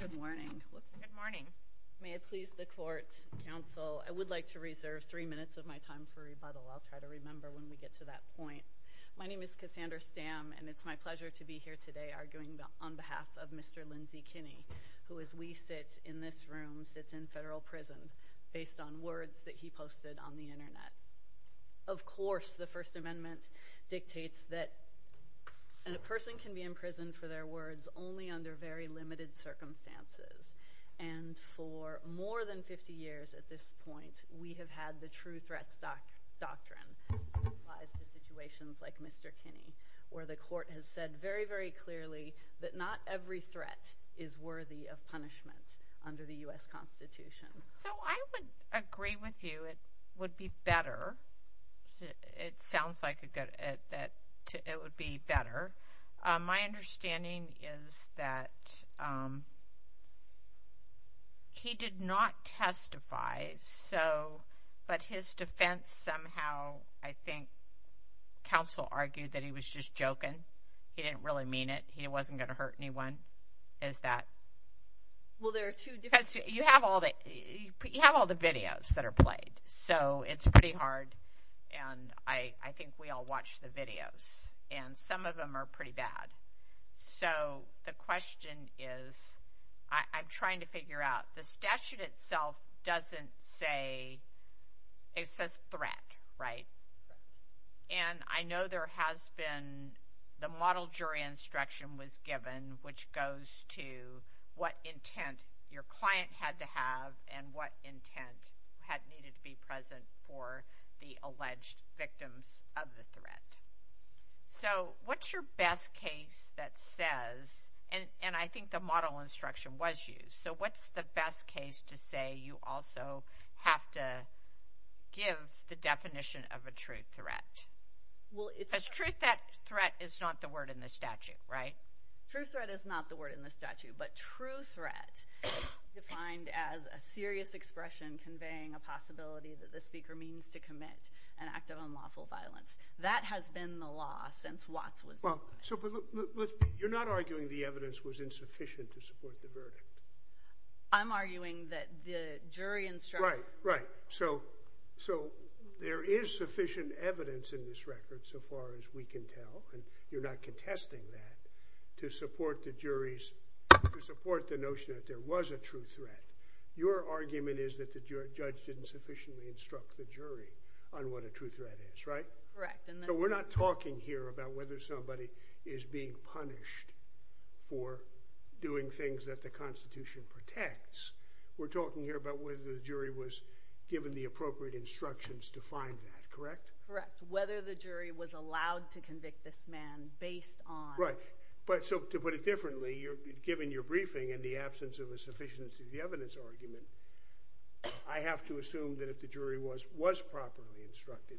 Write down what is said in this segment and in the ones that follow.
Good morning. May it please the court, counsel, I would like to reserve 3 minutes of my time for rebuttal. I'll try to remember when we get to that point. My name is Cassandra Stamm and it's my pleasure to be here today arguing on behalf of Mr. Lindsey Kinney, who as we sit in this room sits in federal prison based on words that he posted on the internet. Of course the First Amendment dictates that a person can be imprisoned for their words only under very limited circumstances and for more than 50 years at this point we have had the true threats doctrine that applies to situations like Mr. Kinney where the court has said very clearly that not every threat is worthy of punishment under the U.S. Constitution. So I would agree with you it would be better it sounds like a good that it would be better. My understanding is that he did not testify so but his defense somehow I think counsel argued that he was just joking. He didn't really mean it. He wasn't going to hurt anyone. You have all the videos that are played so it's pretty hard and I think we all watch the videos and some of them are pretty bad. So the question is I'm trying to figure out the statute itself doesn't say it says threat right and I know there has been the model jury instruction was given which goes to what intent your client had to have and what intent had needed to be present for the alleged victims of the threat. So what's your best case that says and and I think the model instruction was used so what's the best case to say you also have to give the definition of a true threat. Well it's truth that threat is not the word in the statute right. True threat is not the word in the statute but true threat defined as a serious expression conveying a possibility that the speaker means to commit an act of unlawful violence. That has been the law since Watts was. Well so you're not arguing the evidence was jury instruction. Right right so so there is sufficient evidence in this record so far as we can tell and you're not contesting that to support the jury's to support the notion that there was a true threat. Your argument is that the judge didn't sufficiently instruct the jury on what a true threat is right. Correct. So we're not talking here about whether somebody is being punished for doing things that the Constitution protects. We're talking here about whether the jury was given the appropriate instructions to find that correct. Correct whether the jury was allowed to convict this man based on. Right but so to put it differently you're given your briefing and the absence of a sufficiency of the evidence argument I have to assume that if the jury was was properly instructed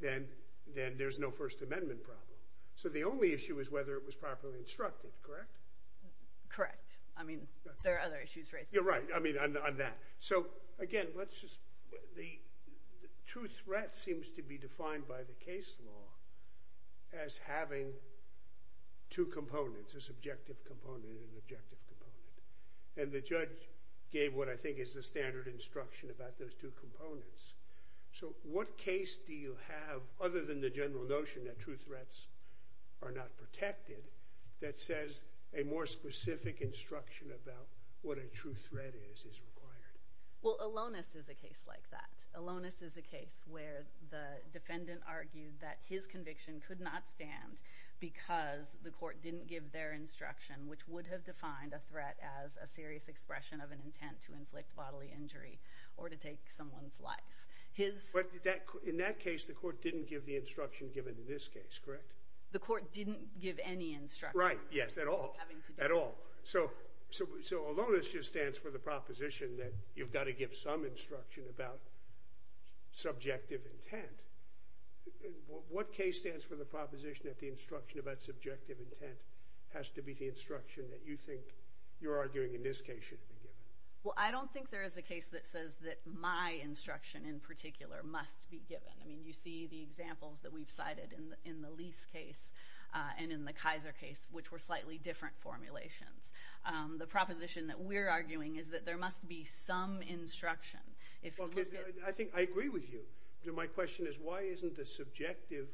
then then there's no First Amendment problem. So the only issue is whether it was properly instructed correct. Correct I mean there are other issues. You're right I mean on that so again let's just the true threat seems to be defined by the case law as having two components a subjective component and objective component and the judge gave what I think is the standard instruction about those two components. So what case do you have other than the general notion that true threat is protected that says a more specific instruction about what a true threat is is required. Well Alonus is a case like that. Alonus is a case where the defendant argued that his conviction could not stand because the court didn't give their instruction which would have defined a threat as a serious expression of an intent to inflict bodily injury or to take someone's life. But in that case the court didn't give the instruction given in this case correct. The court didn't give any instruction. Right yes at all at all. So so Alonus just stands for the proposition that you've got to give some instruction about subjective intent. What case stands for the proposition that the instruction about subjective intent has to be the instruction that you think you're arguing in this case should be given. Well I don't think there is a case that says that my instruction in particular must be given. I mean you see the examples that we've cited in the Lease case and in the Kaiser case which were slightly different formulations. The proposition that we're arguing is that there must be some instruction. I think I agree with you. My question is why isn't the subjective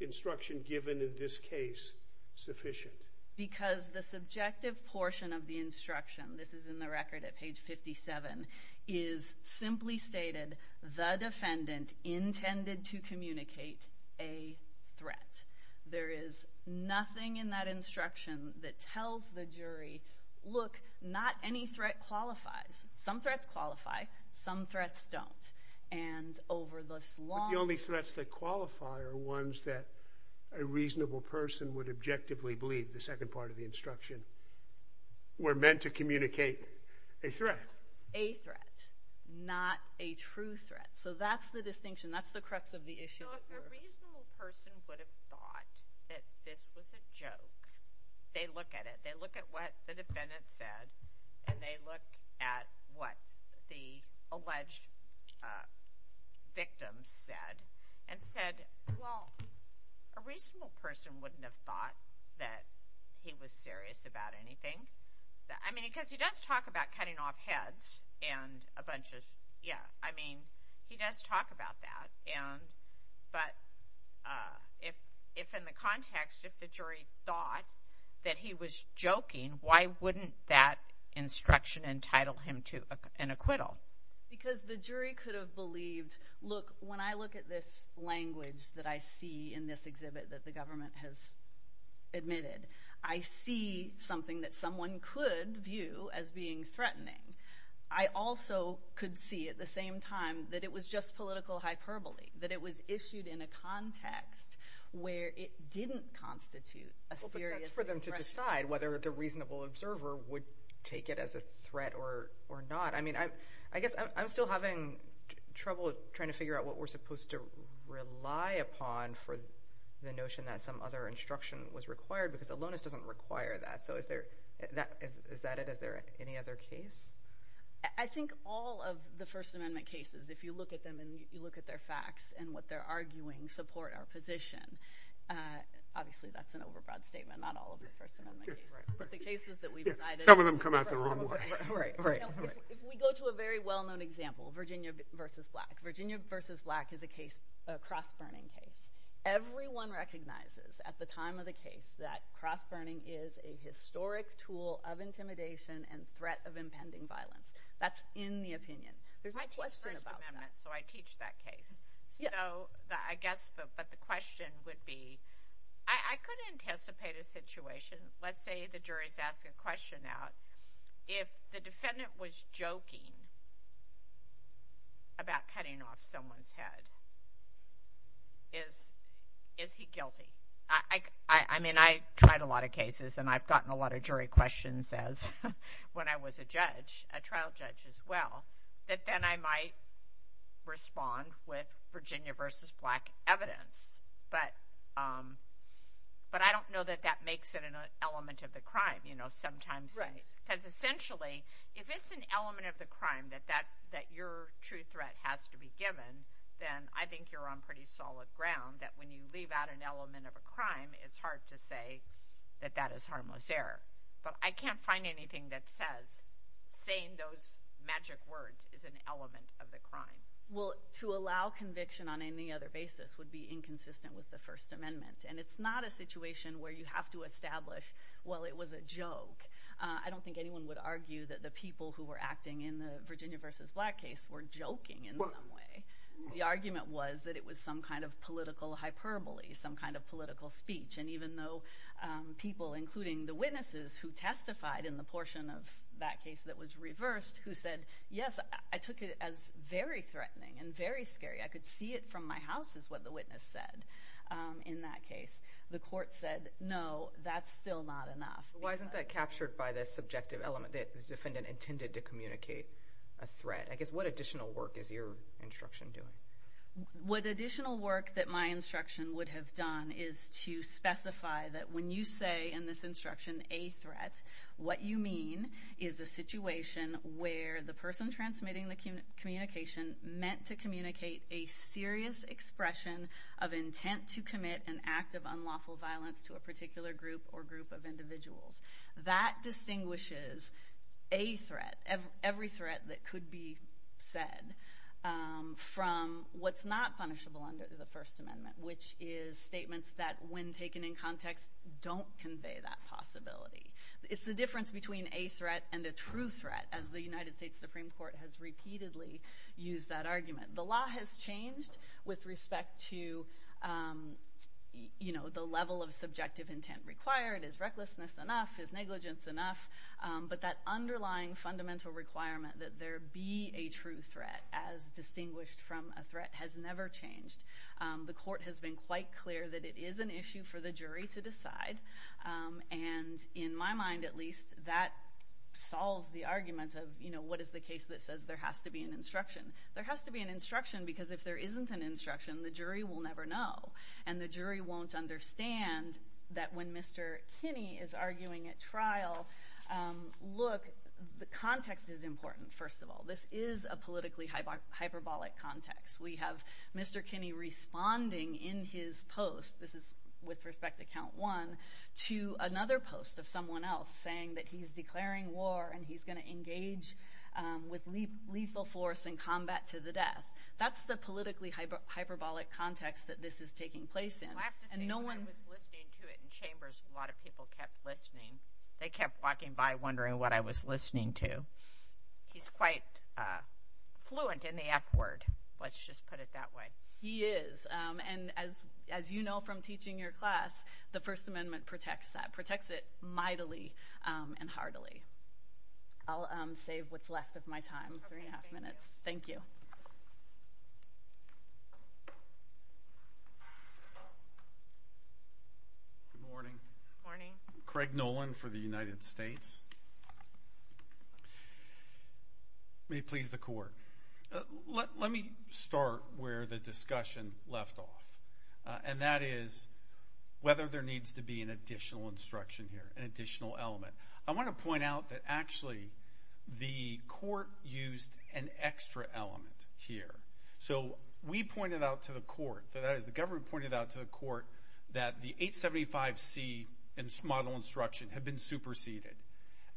instruction given in this case sufficient? Because the subjective portion of the instruction this is in the record at page 57 is simply stated the defendant intended to communicate a threat. There is nothing in that instruction that tells the jury look not any threat qualifies. Some threats qualify. Some threats don't. And over this long. The only threats that qualify are ones that a reasonable person would objectively believe the second part of the instruction were meant to communicate a threat. A threat not a true threat. So that's the distinction that's the crux of the issue. If a reasonable person would have thought that this was a joke. They look at it. They look at what the defendant said and they look at what the alleged victim said and said well a reasonable person wouldn't have thought that he was serious about anything. I mean because he does talk about cutting off heads and a bunch of yeah I mean he does talk about that and but if if in the context if the jury thought that he was joking why wouldn't that instruction entitle him to an acquittal? Because the jury could have believed look when I look at this language that I see in threatening I also could see at the same time that it was just political hyperbole. That it was issued in a context where it didn't constitute a serious threat. For them to decide whether the reasonable observer would take it as a threat or or not. I mean I I guess I'm still having trouble trying to figure out what we're supposed to rely upon for the notion that some other instruction was required because aloneness doesn't require that. So is there that is that it is there any other case? I think all of the First Amendment cases if you look at them and you look at their facts and what they're arguing support our position. Obviously that's an overbroad statement not all of the First Amendment cases. Some of them come out the wrong way. If we go to a very well-known example Virginia versus black. Virginia versus black is a case a cross-burning case. Everyone recognizes at the historic tool of intimidation and threat of impending violence. That's in the opinion. There's a question about that. I teach First Amendment so I teach that case. So I guess but the question would be I could anticipate a situation. Let's say the jury's asking a question out. If the defendant was joking about cutting off someone's head is is he guilty? I I mean I tried a lot of cases and I've gotten a lot of jury questions as when I was a judge a trial judge as well that then I might respond with Virginia versus black evidence. But but I don't know that that makes it an element of the crime you know sometimes. Right. Because essentially if it's an element of the crime that that that your true threat has to be given then I think you're on pretty solid ground that when you leave out an harmless error. But I can't find anything that says saying those magic words is an element of the crime. Well to allow conviction on any other basis would be inconsistent with the First Amendment and it's not a situation where you have to establish well it was a joke. I don't think anyone would argue that the people who were acting in the Virginia versus black case were joking in some way. The argument was that it was some kind of political hyperbole. Some kind of political speech. And even though people including the witnesses who testified in the portion of that case that was reversed who said yes I took it as very threatening and very scary. I could see it from my house is what the witness said in that case. The court said no that's still not enough. Why isn't that captured by this subjective element that the defendant intended to communicate a threat. I guess what additional work is your instruction doing. What additional work that my instruction would have done is to specify that when you say in this instruction a threat what you mean is a situation where the person transmitting the communication meant to communicate a serious expression of intent to commit an act of unlawful violence to a particular group or group of people. Every threat every threat that could be said from what's not punishable under the First Amendment which is statements that when taken in context don't convey that possibility. It's the difference between a threat and a true threat as the United States Supreme Court has repeatedly used that argument. The law has changed with respect to you know the level of subjective intent required is recklessness enough is negligence enough. But that underlying fundamental requirement that there be a true threat as distinguished from a threat has never changed. The court has been quite clear that it is an issue for the jury to decide. And in my mind at least that solves the argument of you know what is the case that says there has to be an instruction. There has to be an instruction because if there isn't an instruction the jury will never know and the jury won't understand that when Mr. Kinney is arguing at trial. Look the context is important. First of all this is a politically hyperbolic context. We have Mr. Kinney responding in his post. This is with respect to count one to another post of someone else saying that he's declaring war and he's going to engage with lethal force in a lot of people kept listening. They kept walking by wondering what I was listening to. He's quite fluent in the F word. Let's just put it that way. He is. And as as you know from teaching your class the First Amendment protects that protects it mightily and heartily. I'll save what's left of my time. Three and a half morning Craig Nolan for the United States. May please the court. Let me start where the discussion left off and that is whether there needs to be an additional instruction here. An additional element. I want to point out that actually the court used an extra element here. So we pointed out to the court that as the government pointed out to the court that the 875 C model instruction had been superseded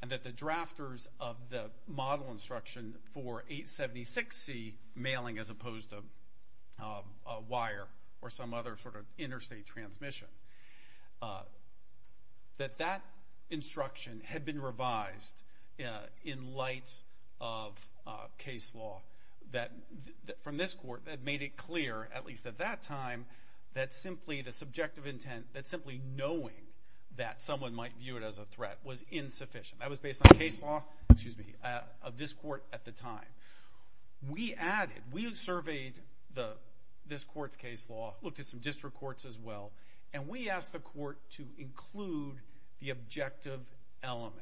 and that the drafters of the model instruction for 876 C mailing as opposed to a wire or some other sort of interstate transmission that that instruction had been revised in light of case law that from this court that made it clear at least at that time that simply the subjective intent that simply knowing that someone might view it as a threat was insufficient. I was based on case law excuse me of this court at the time. We added we surveyed the this court's case law looked at some district courts as well. And we asked the court to include the objective element.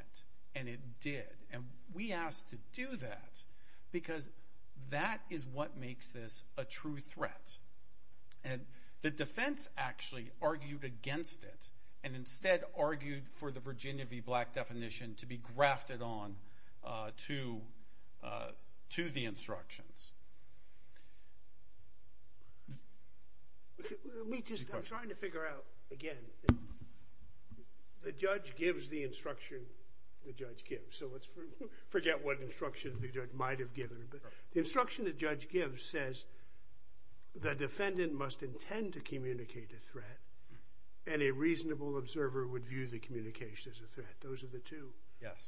And it did. And we asked to do that because that is what makes this a true threat. And the defense actually argued against it and instead argued for the Virginia v. Black definition to be grafted on to to the instructions. We just are trying to figure out again the judge gives the instruction the judge gives. So let's forget what instruction the judge might have given the instruction the judge gives says the defendant must intend to communicate a threat and a reasonable observer would view the communication as a threat. Those are the two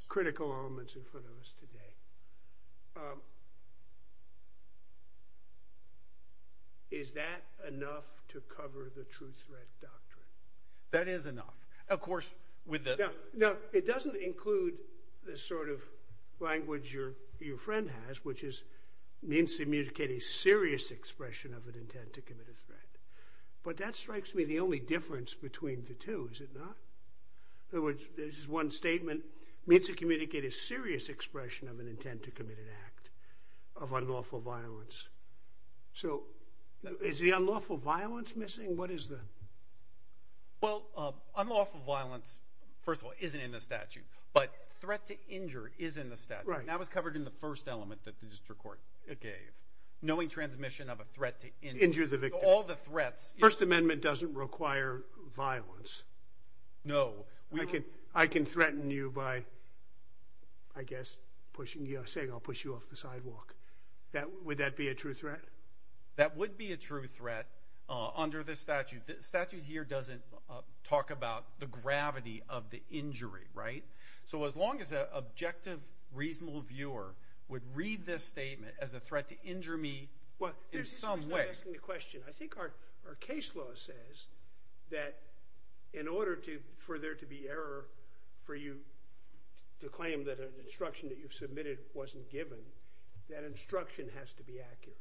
critical elements in front of us today. Is that enough to cover the truth. That is enough. Of course with that. No it doesn't include this sort of language or your friend has which means to communicate a serious expression of an intent to commit a threat. But that strikes me the only difference between the two is it not. Which is one statement means to communicate a serious expression of an intent to commit an act of unlawful violence. So is the unlawful violence missing. What is the well unlawful violence. First of all isn't in the statute but threat to injure is in the statute. That was covered in the first element that the district court gave knowing transmission of a threat to injure the victim. All the threats. First Amendment doesn't require violence. No I can I can threaten you by I guess pushing you saying I'll push you off the sidewalk. Would that be a true threat. That would be a true threat under this statute. The statute here doesn't talk about the gravity of the injury. Right. So as long as the objective reasonable viewer would read this statement as a threat to injure me. What is some way asking the question. I think our our case law says that in order to for there to be error for you to claim that an instruction that you've submitted wasn't given that instruction has to be accurate.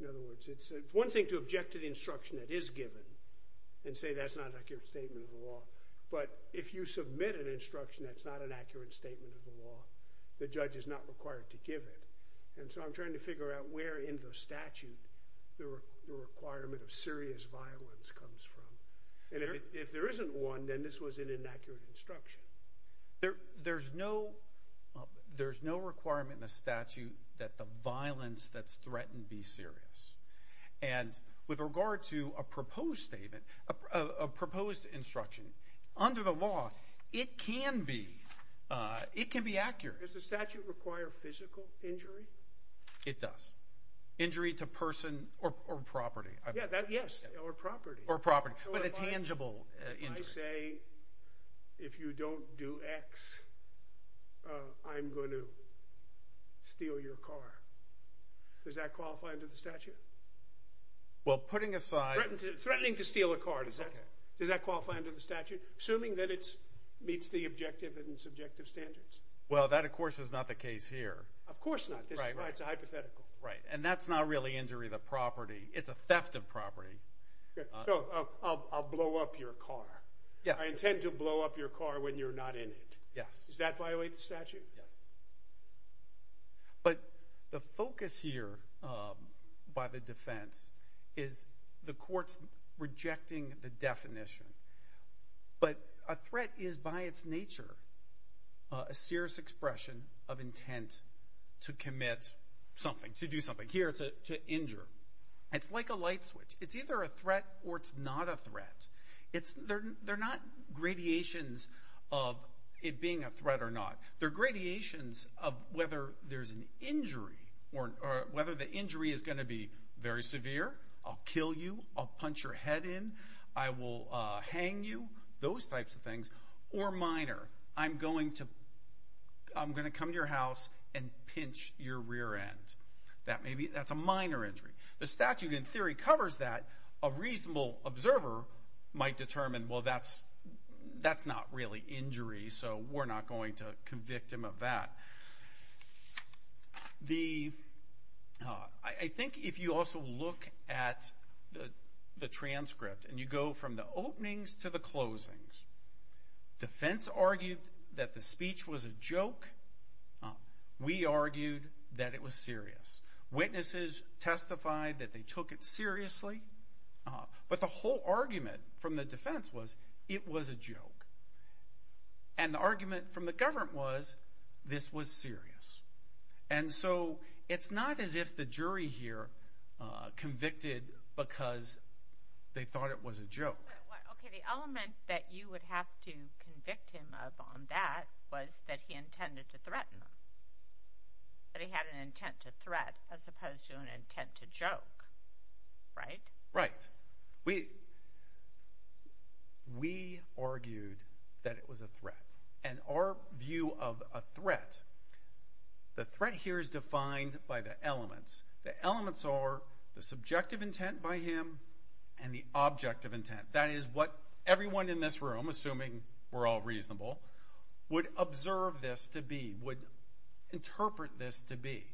In other words it's one thing to object to the instruction that is given and say that's not an accurate statement of the law. But if you submit an instruction the judge is not required to give it. And so I'm trying to figure out where in the statute the requirement of serious violence comes from. And if there isn't one then this was an inaccurate instruction. There there's no there's no requirement in the statute that the violence that's threatened be serious. And with regard to a proposed statement a proposed instruction under the law it can be it can be accurate. Does the statute require physical injury. It does. Injury to person or property. Yes. Or property or property with a tangible injury say if you don't do X I'm going to steal your car. Does that qualify under the statute. Well putting aside threatening to steal a car does that does that qualify under the statute. Assuming that it's meets the objective and subjective standards. Well that of course is not the case here. Of course not. Right. Right. It's a hypothetical. Right. And that's not really injury the property. It's a theft of property. So I'll blow up your car. Yes. I intend to blow up your car when you're not in it. Yes. Does that violate the statute. But the focus here by the defense is the courts rejecting the definition. But a threat is by its nature a serious expression of intent to commit something to do something here to injure. It's like a light switch. It's either a threat or it's not a threat. It's there. They're not gradations of it being a threat or not. They're gradations of whether there's an injury or whether the injury is going to be very severe. I'll kill you. I'll punch your head in. I will hang you. Those types of things or minor. I'm going to I'm going to come to your house and pinch your rear end. That may be that's a minor injury. The statute in theory covers that. A reasonable observer might determine well that's that's not really injury. So we're not going to convict him of that. The I think if you also look at the transcript and you go from the openings to the closings. Defense argued that the speech was a joke. We argued that it was serious. Witnesses testified that they took it seriously. But the whole argument from the defense was it was a joke. And the argument from the government was this was serious. And so it's not as if the jury here convicted because they thought it was a joke. The element that you would have to convict him of on that was that he intended to threaten him. That he had an intent to threat as opposed to an intent to joke. Right. Right. We we argued that it was a threat and our view of a threat. The threat here is defined by the elements. The elements are the subjective intent by him and the objective intent. That is what everyone in this room assuming we're all reasonable would observe this to be would interpret this to be.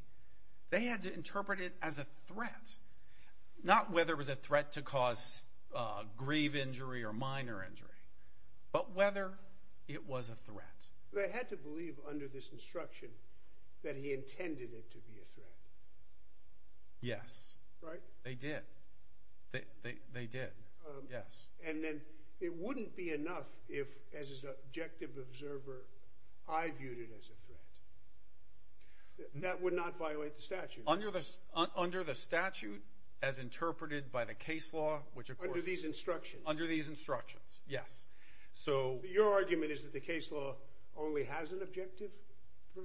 They had to interpret it as a threat. They had to believe under this instruction that he intended it to be a threat. Yes. Right. They did. They did. Yes. And then it wouldn't be enough if as his objective observer I viewed it as a threat. That would not violate the statute under this under the statute as interpreted by the case law only has an objective.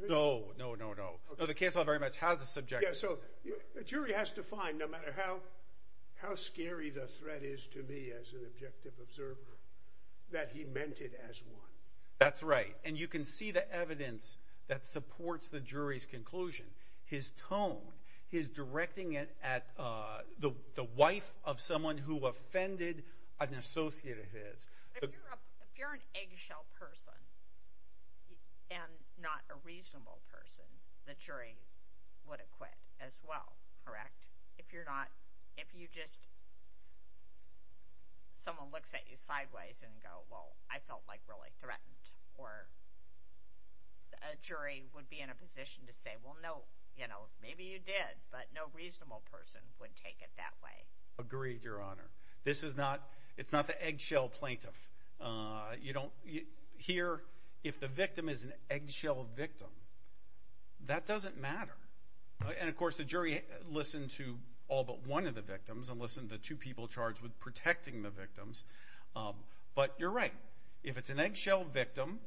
No no no no. The case law very much has a subject. So the jury has to find no matter how how scary the threat is to me as an objective observer that he meant it as one. That's right. And you can see the evidence that supports the jury's conclusion. His tone is and not a reasonable person. The jury would acquit as well. Correct. If you're not if you just someone looks at you sideways and go well I felt like really threatened or a jury would be in a position to say well no you know maybe you did but no reasonable person would take it that way. Agreed if the victim is an eggshell victim that doesn't matter. And of course the jury listened to all but one of the victims and listened to two people charged with protecting the victims. But you're right. If it's an eggshell victim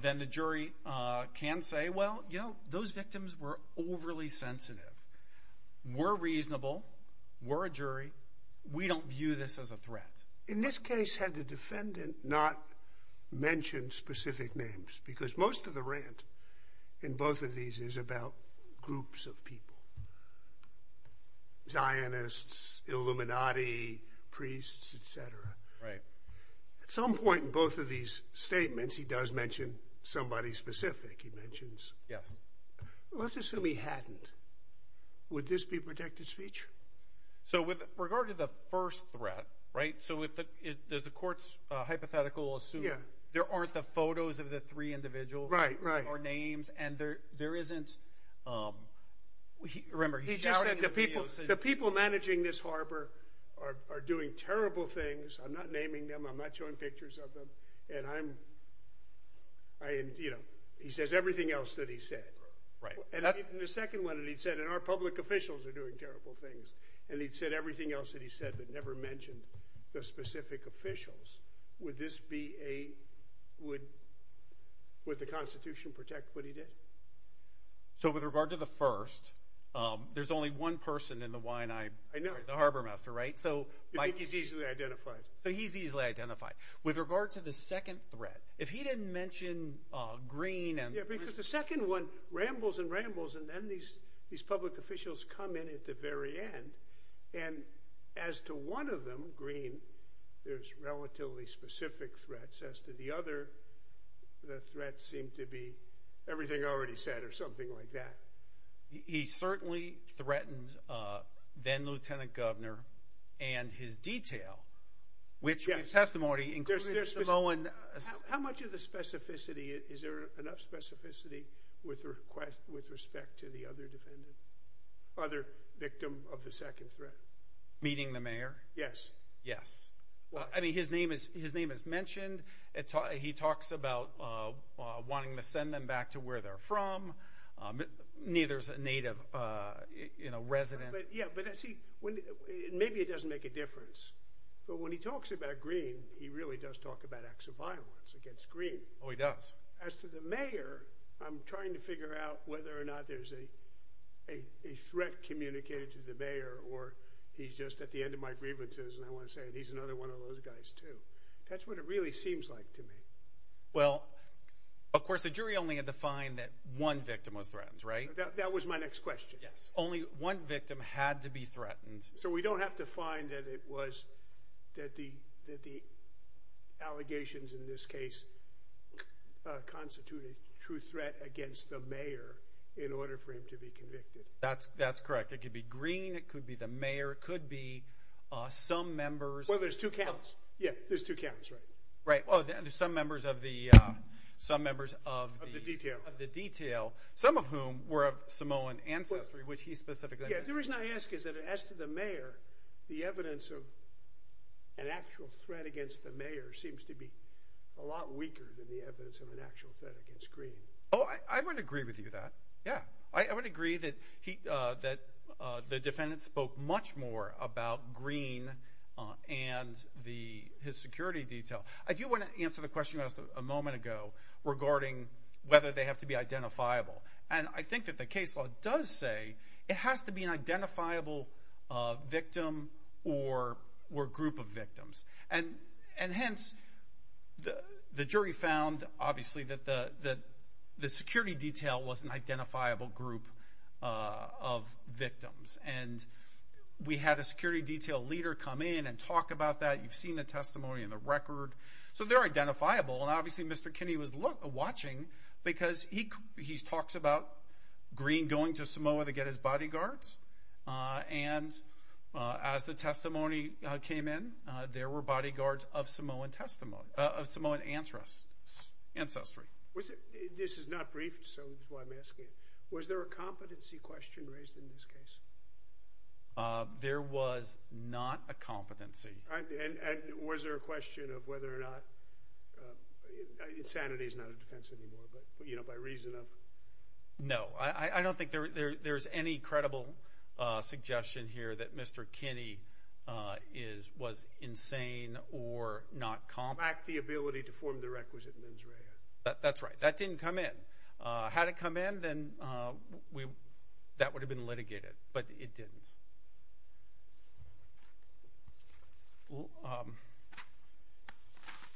then the jury can say well you know those victims were overly sensitive. We're reasonable. We're a jury. We don't view this as a threat. In this case had the defendant not mentioned specific names because most of the rant in both of these is about groups of people. Zionists Illuminati priests et cetera. Right. At some point in both of these statements he does mention somebody specific. He mentions yes. Let's assume he hadn't. Would this be protected speech. So with regard to the first threat. Right. So with the courts hypothetical assume there aren't the photos of the three individuals. Right. Right. Or names. And there there isn't. Remember he just said the people the people managing this harbor are doing terrible things. I'm not naming them. I'm not showing pictures of them. And I'm you know he says everything else that he said. Right. And the second one that he'd said in our public officials are doing terrible things. And he'd said everything else that he said but never mentioned the specific officials. Would this be a would with the Constitution protect what he did. So with regard to the first there's only one person in the wine I know the harbormaster right. So Mike is easily identified. So he's easily identified with regard to the second threat. If he didn't mention green and the second one rambles and rambles and then these these public officials come in at the very end. And as to one of them green there's relatively specific threats as to the other. The threat seemed to be everything already said or something like that. He certainly threatened then lieutenant governor and his detail which testimony incurs. There's no one. How much of the specificity. Is there enough specificity with request with respect to the other defendant. Other victim of the second threat. Meeting the mayor. Yes. Yes. Well I mean his name is his name is mentioned. He talks about wanting to send them back to where they're from. Neither is a native resident. Yeah. But I see when maybe it doesn't make a but when he talks about green he really does talk about acts of violence against green. Oh he does. As to the mayor. I'm trying to figure out whether or not there's a a threat communicated to the mayor or he's just at the end of my grievances. And I want to say he's another one of those guys too. That's what it really seems like to me. Well of course the jury only had to find that one victim was that the that the allegations in this case constituted true threat against the mayor in order for him to be convicted. That's that's correct. It could be green. It could be the mayor. It could be some members. Well there's two counts. Yeah. There's two counts right. Right. Oh there's some members of the some members of the detail of the detail some of whom were Samoan ancestry which he's the reason I ask is that as to the mayor the evidence of an actual threat against the mayor seems to be a lot weaker than the evidence of an actual threat against green. Oh I would agree with you that. Yeah. I would agree that he that the defendant spoke much more about green and the his security detail. I do want to answer the question you asked a moment ago regarding whether they have to be has to be an identifiable victim or or group of victims. And and hence the jury found obviously that the that the security detail was an identifiable group of victims. And we had a security detail leader come in and talk about that. You've seen the testimony in the bodyguards. And as the testimony came in there were bodyguards of Samoan testimony of Samoan entrusts ancestry. Was it. This is not brief. So I'm asking was there a competency question raised in this case. There was not a competency. And was there a question of whether or not insanity is not a defense anymore. But you know by reason of no I don't think there's any credible suggestion here that Mr. Kinney is was insane or not calm back the ability to form the requisite mens rea. That's right. That didn't come in. Had it come in then we that would have been litigated. But it didn't.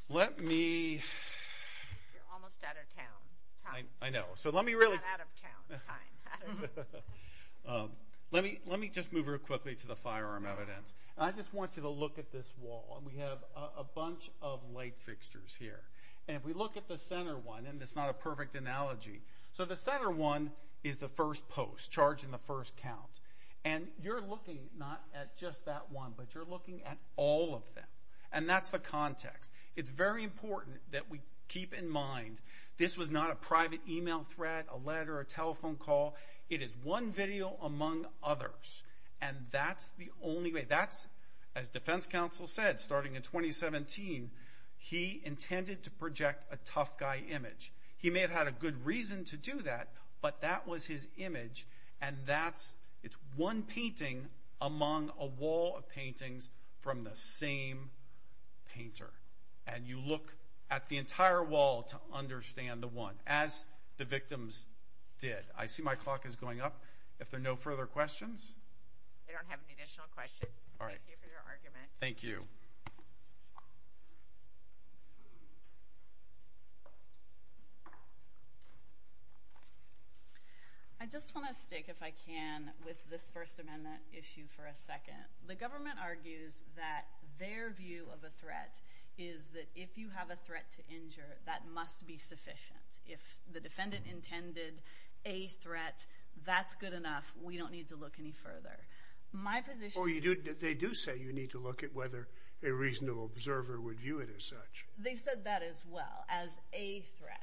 Let me. I know. So let me really. Let me let me just move quickly to the firearm evidence. I just want you to look at this wall. We have a is the first post charge in the first count. And you're looking not at just that one but you're looking at all of them. And that's the context. It's very important that we keep in mind. This was not a private email threat a letter a telephone call. It is one video among others. And that's the only way that's as defense counsel said starting in 2017 he intended to project a tough guy image. He may have had a reason to do that. But that was his image. And that's it's one painting among a wall of paintings from the same painter. And you look at the entire wall to understand the one as the victims did. I see my clock is going up. If there are no further questions. I don't have any questions. I just want to stick if I can with this First Amendment issue for a second. The government argues that their view of a threat is that if you have a threat to injure that must be sufficient. If the defendant intended a threat that's good enough. We don't need to look any further. My position you do. They do say you need to look at whether a reasonable observer would view it as such. They said that as well as a threat.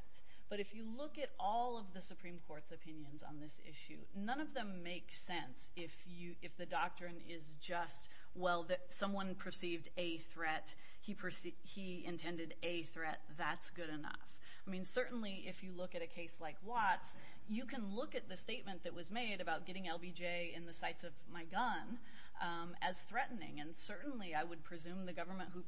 But if you look at all of the Supreme Court's opinions on this issue none of them make sense. If you if the doctrine is just well that someone perceived a threat he perceived he intended a threat that's good enough. I mean certainly if you look at a case like Watts you can look at the statement that was made about getting LBJ in the sights of my gun as threatening. And certainly I would presume the government who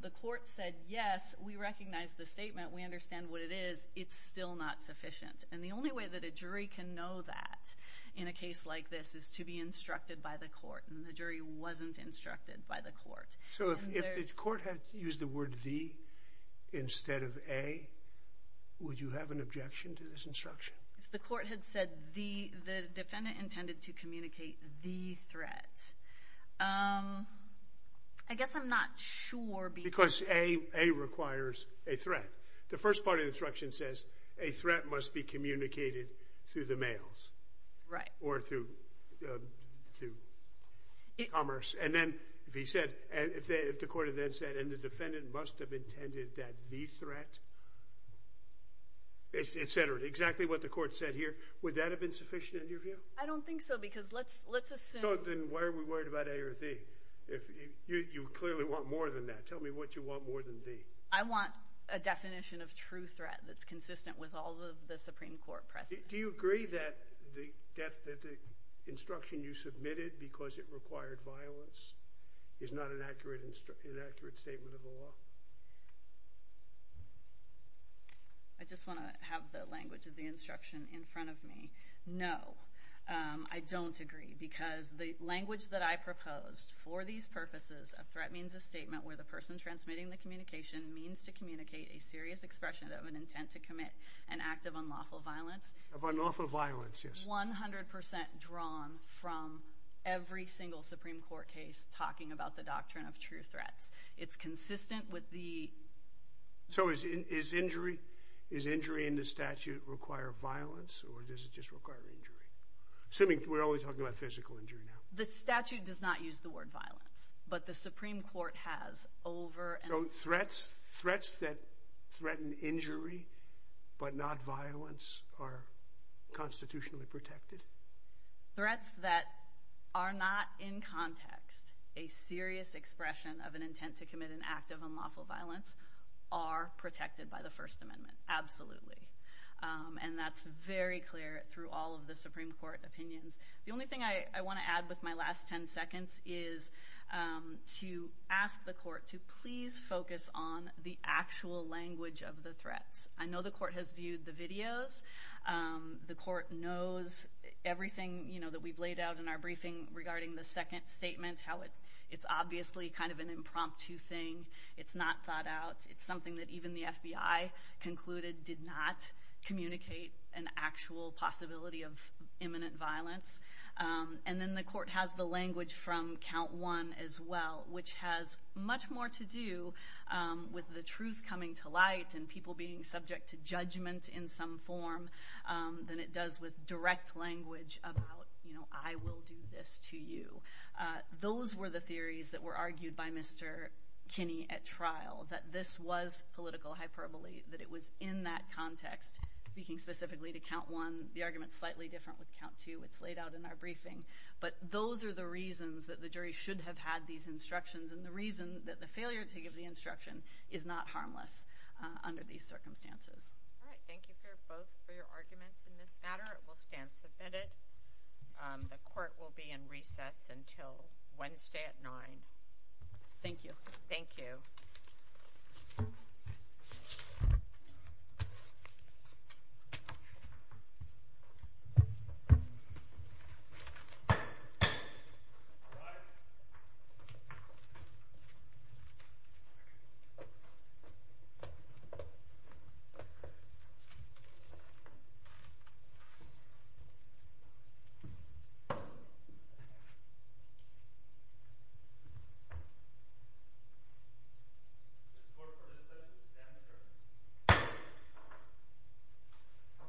the court said yes we recognize the statement we understand what it is. It's still not sufficient. And the only way that a jury can know that in a case like this is to be instructed by the court and the jury wasn't instructed by the court. So if the court had used the word the instead of a would you have an objection to this instruction. The court had said the defendant intended to communicate the threat. I guess I'm not sure because a a requires a threat. The first part of the instruction says a threat must be communicated through the mails. Right. Or through through commerce. And then if he said if the court had then said and the defendant must have intended that the threat. It's centered exactly what the court said here. Would that have been sufficient. I don't think so because let's let's assume then why are we worried about a or b if you clearly want more than that. Tell me what you want more than the I want a definition of true threat that's consistent with all of the Supreme Court. Do you agree that the death that the instruction you submitted because it required violence is not an accurate and accurate statement of the law. I just want to have the language of the instruction in front of me. No I don't agree because the language that I proposed for these purposes a threat means a statement where the person transmitting the communication means to communicate a serious expression of an intent to commit an act of unlawful violence of the. So is it is injury is injury in the statute require violence or does it just require injury. Assuming we're always talking about physical injury. The statute does not use the word violence but the Supreme Court has over. So threats threats that threaten injury but not violence are constitutionally protected threats that are not in context a serious expression of an intent to commit an act of unlawful violence are protected by the First Amendment. Absolutely. And that's very clear through all of the Supreme Court opinions. The only thing I want to add with my last 10 seconds is to ask the court to please focus on the actual language of the threats. I know the court has viewed the videos. The court knows everything you know that we've laid out in our briefing regarding the second statement how it it's obviously kind of an impromptu thing. It's not thought out. It's something that even the FBI concluded did not communicate an actual possibility of imminent violence. And then the court has the language from count one as well which has much more to do with the truth coming to light and people being subject to judgment in some form than it does with direct language about you know I will do this to you. Those were the theories that were argued by Mr. Kinney at trial that this was political hyperbole that it was in that context speaking specifically to count one. The argument is slightly different with count two. It's laid out in our briefing but those are the reasons that the jury should have had these instructions and the reason that the failure to give the instruction is not harmless under these circumstances. Thank you for both for your arguments in this matter. It will stand submitted. The court will be in recess until Wednesday at 9. Thank you. Thank you.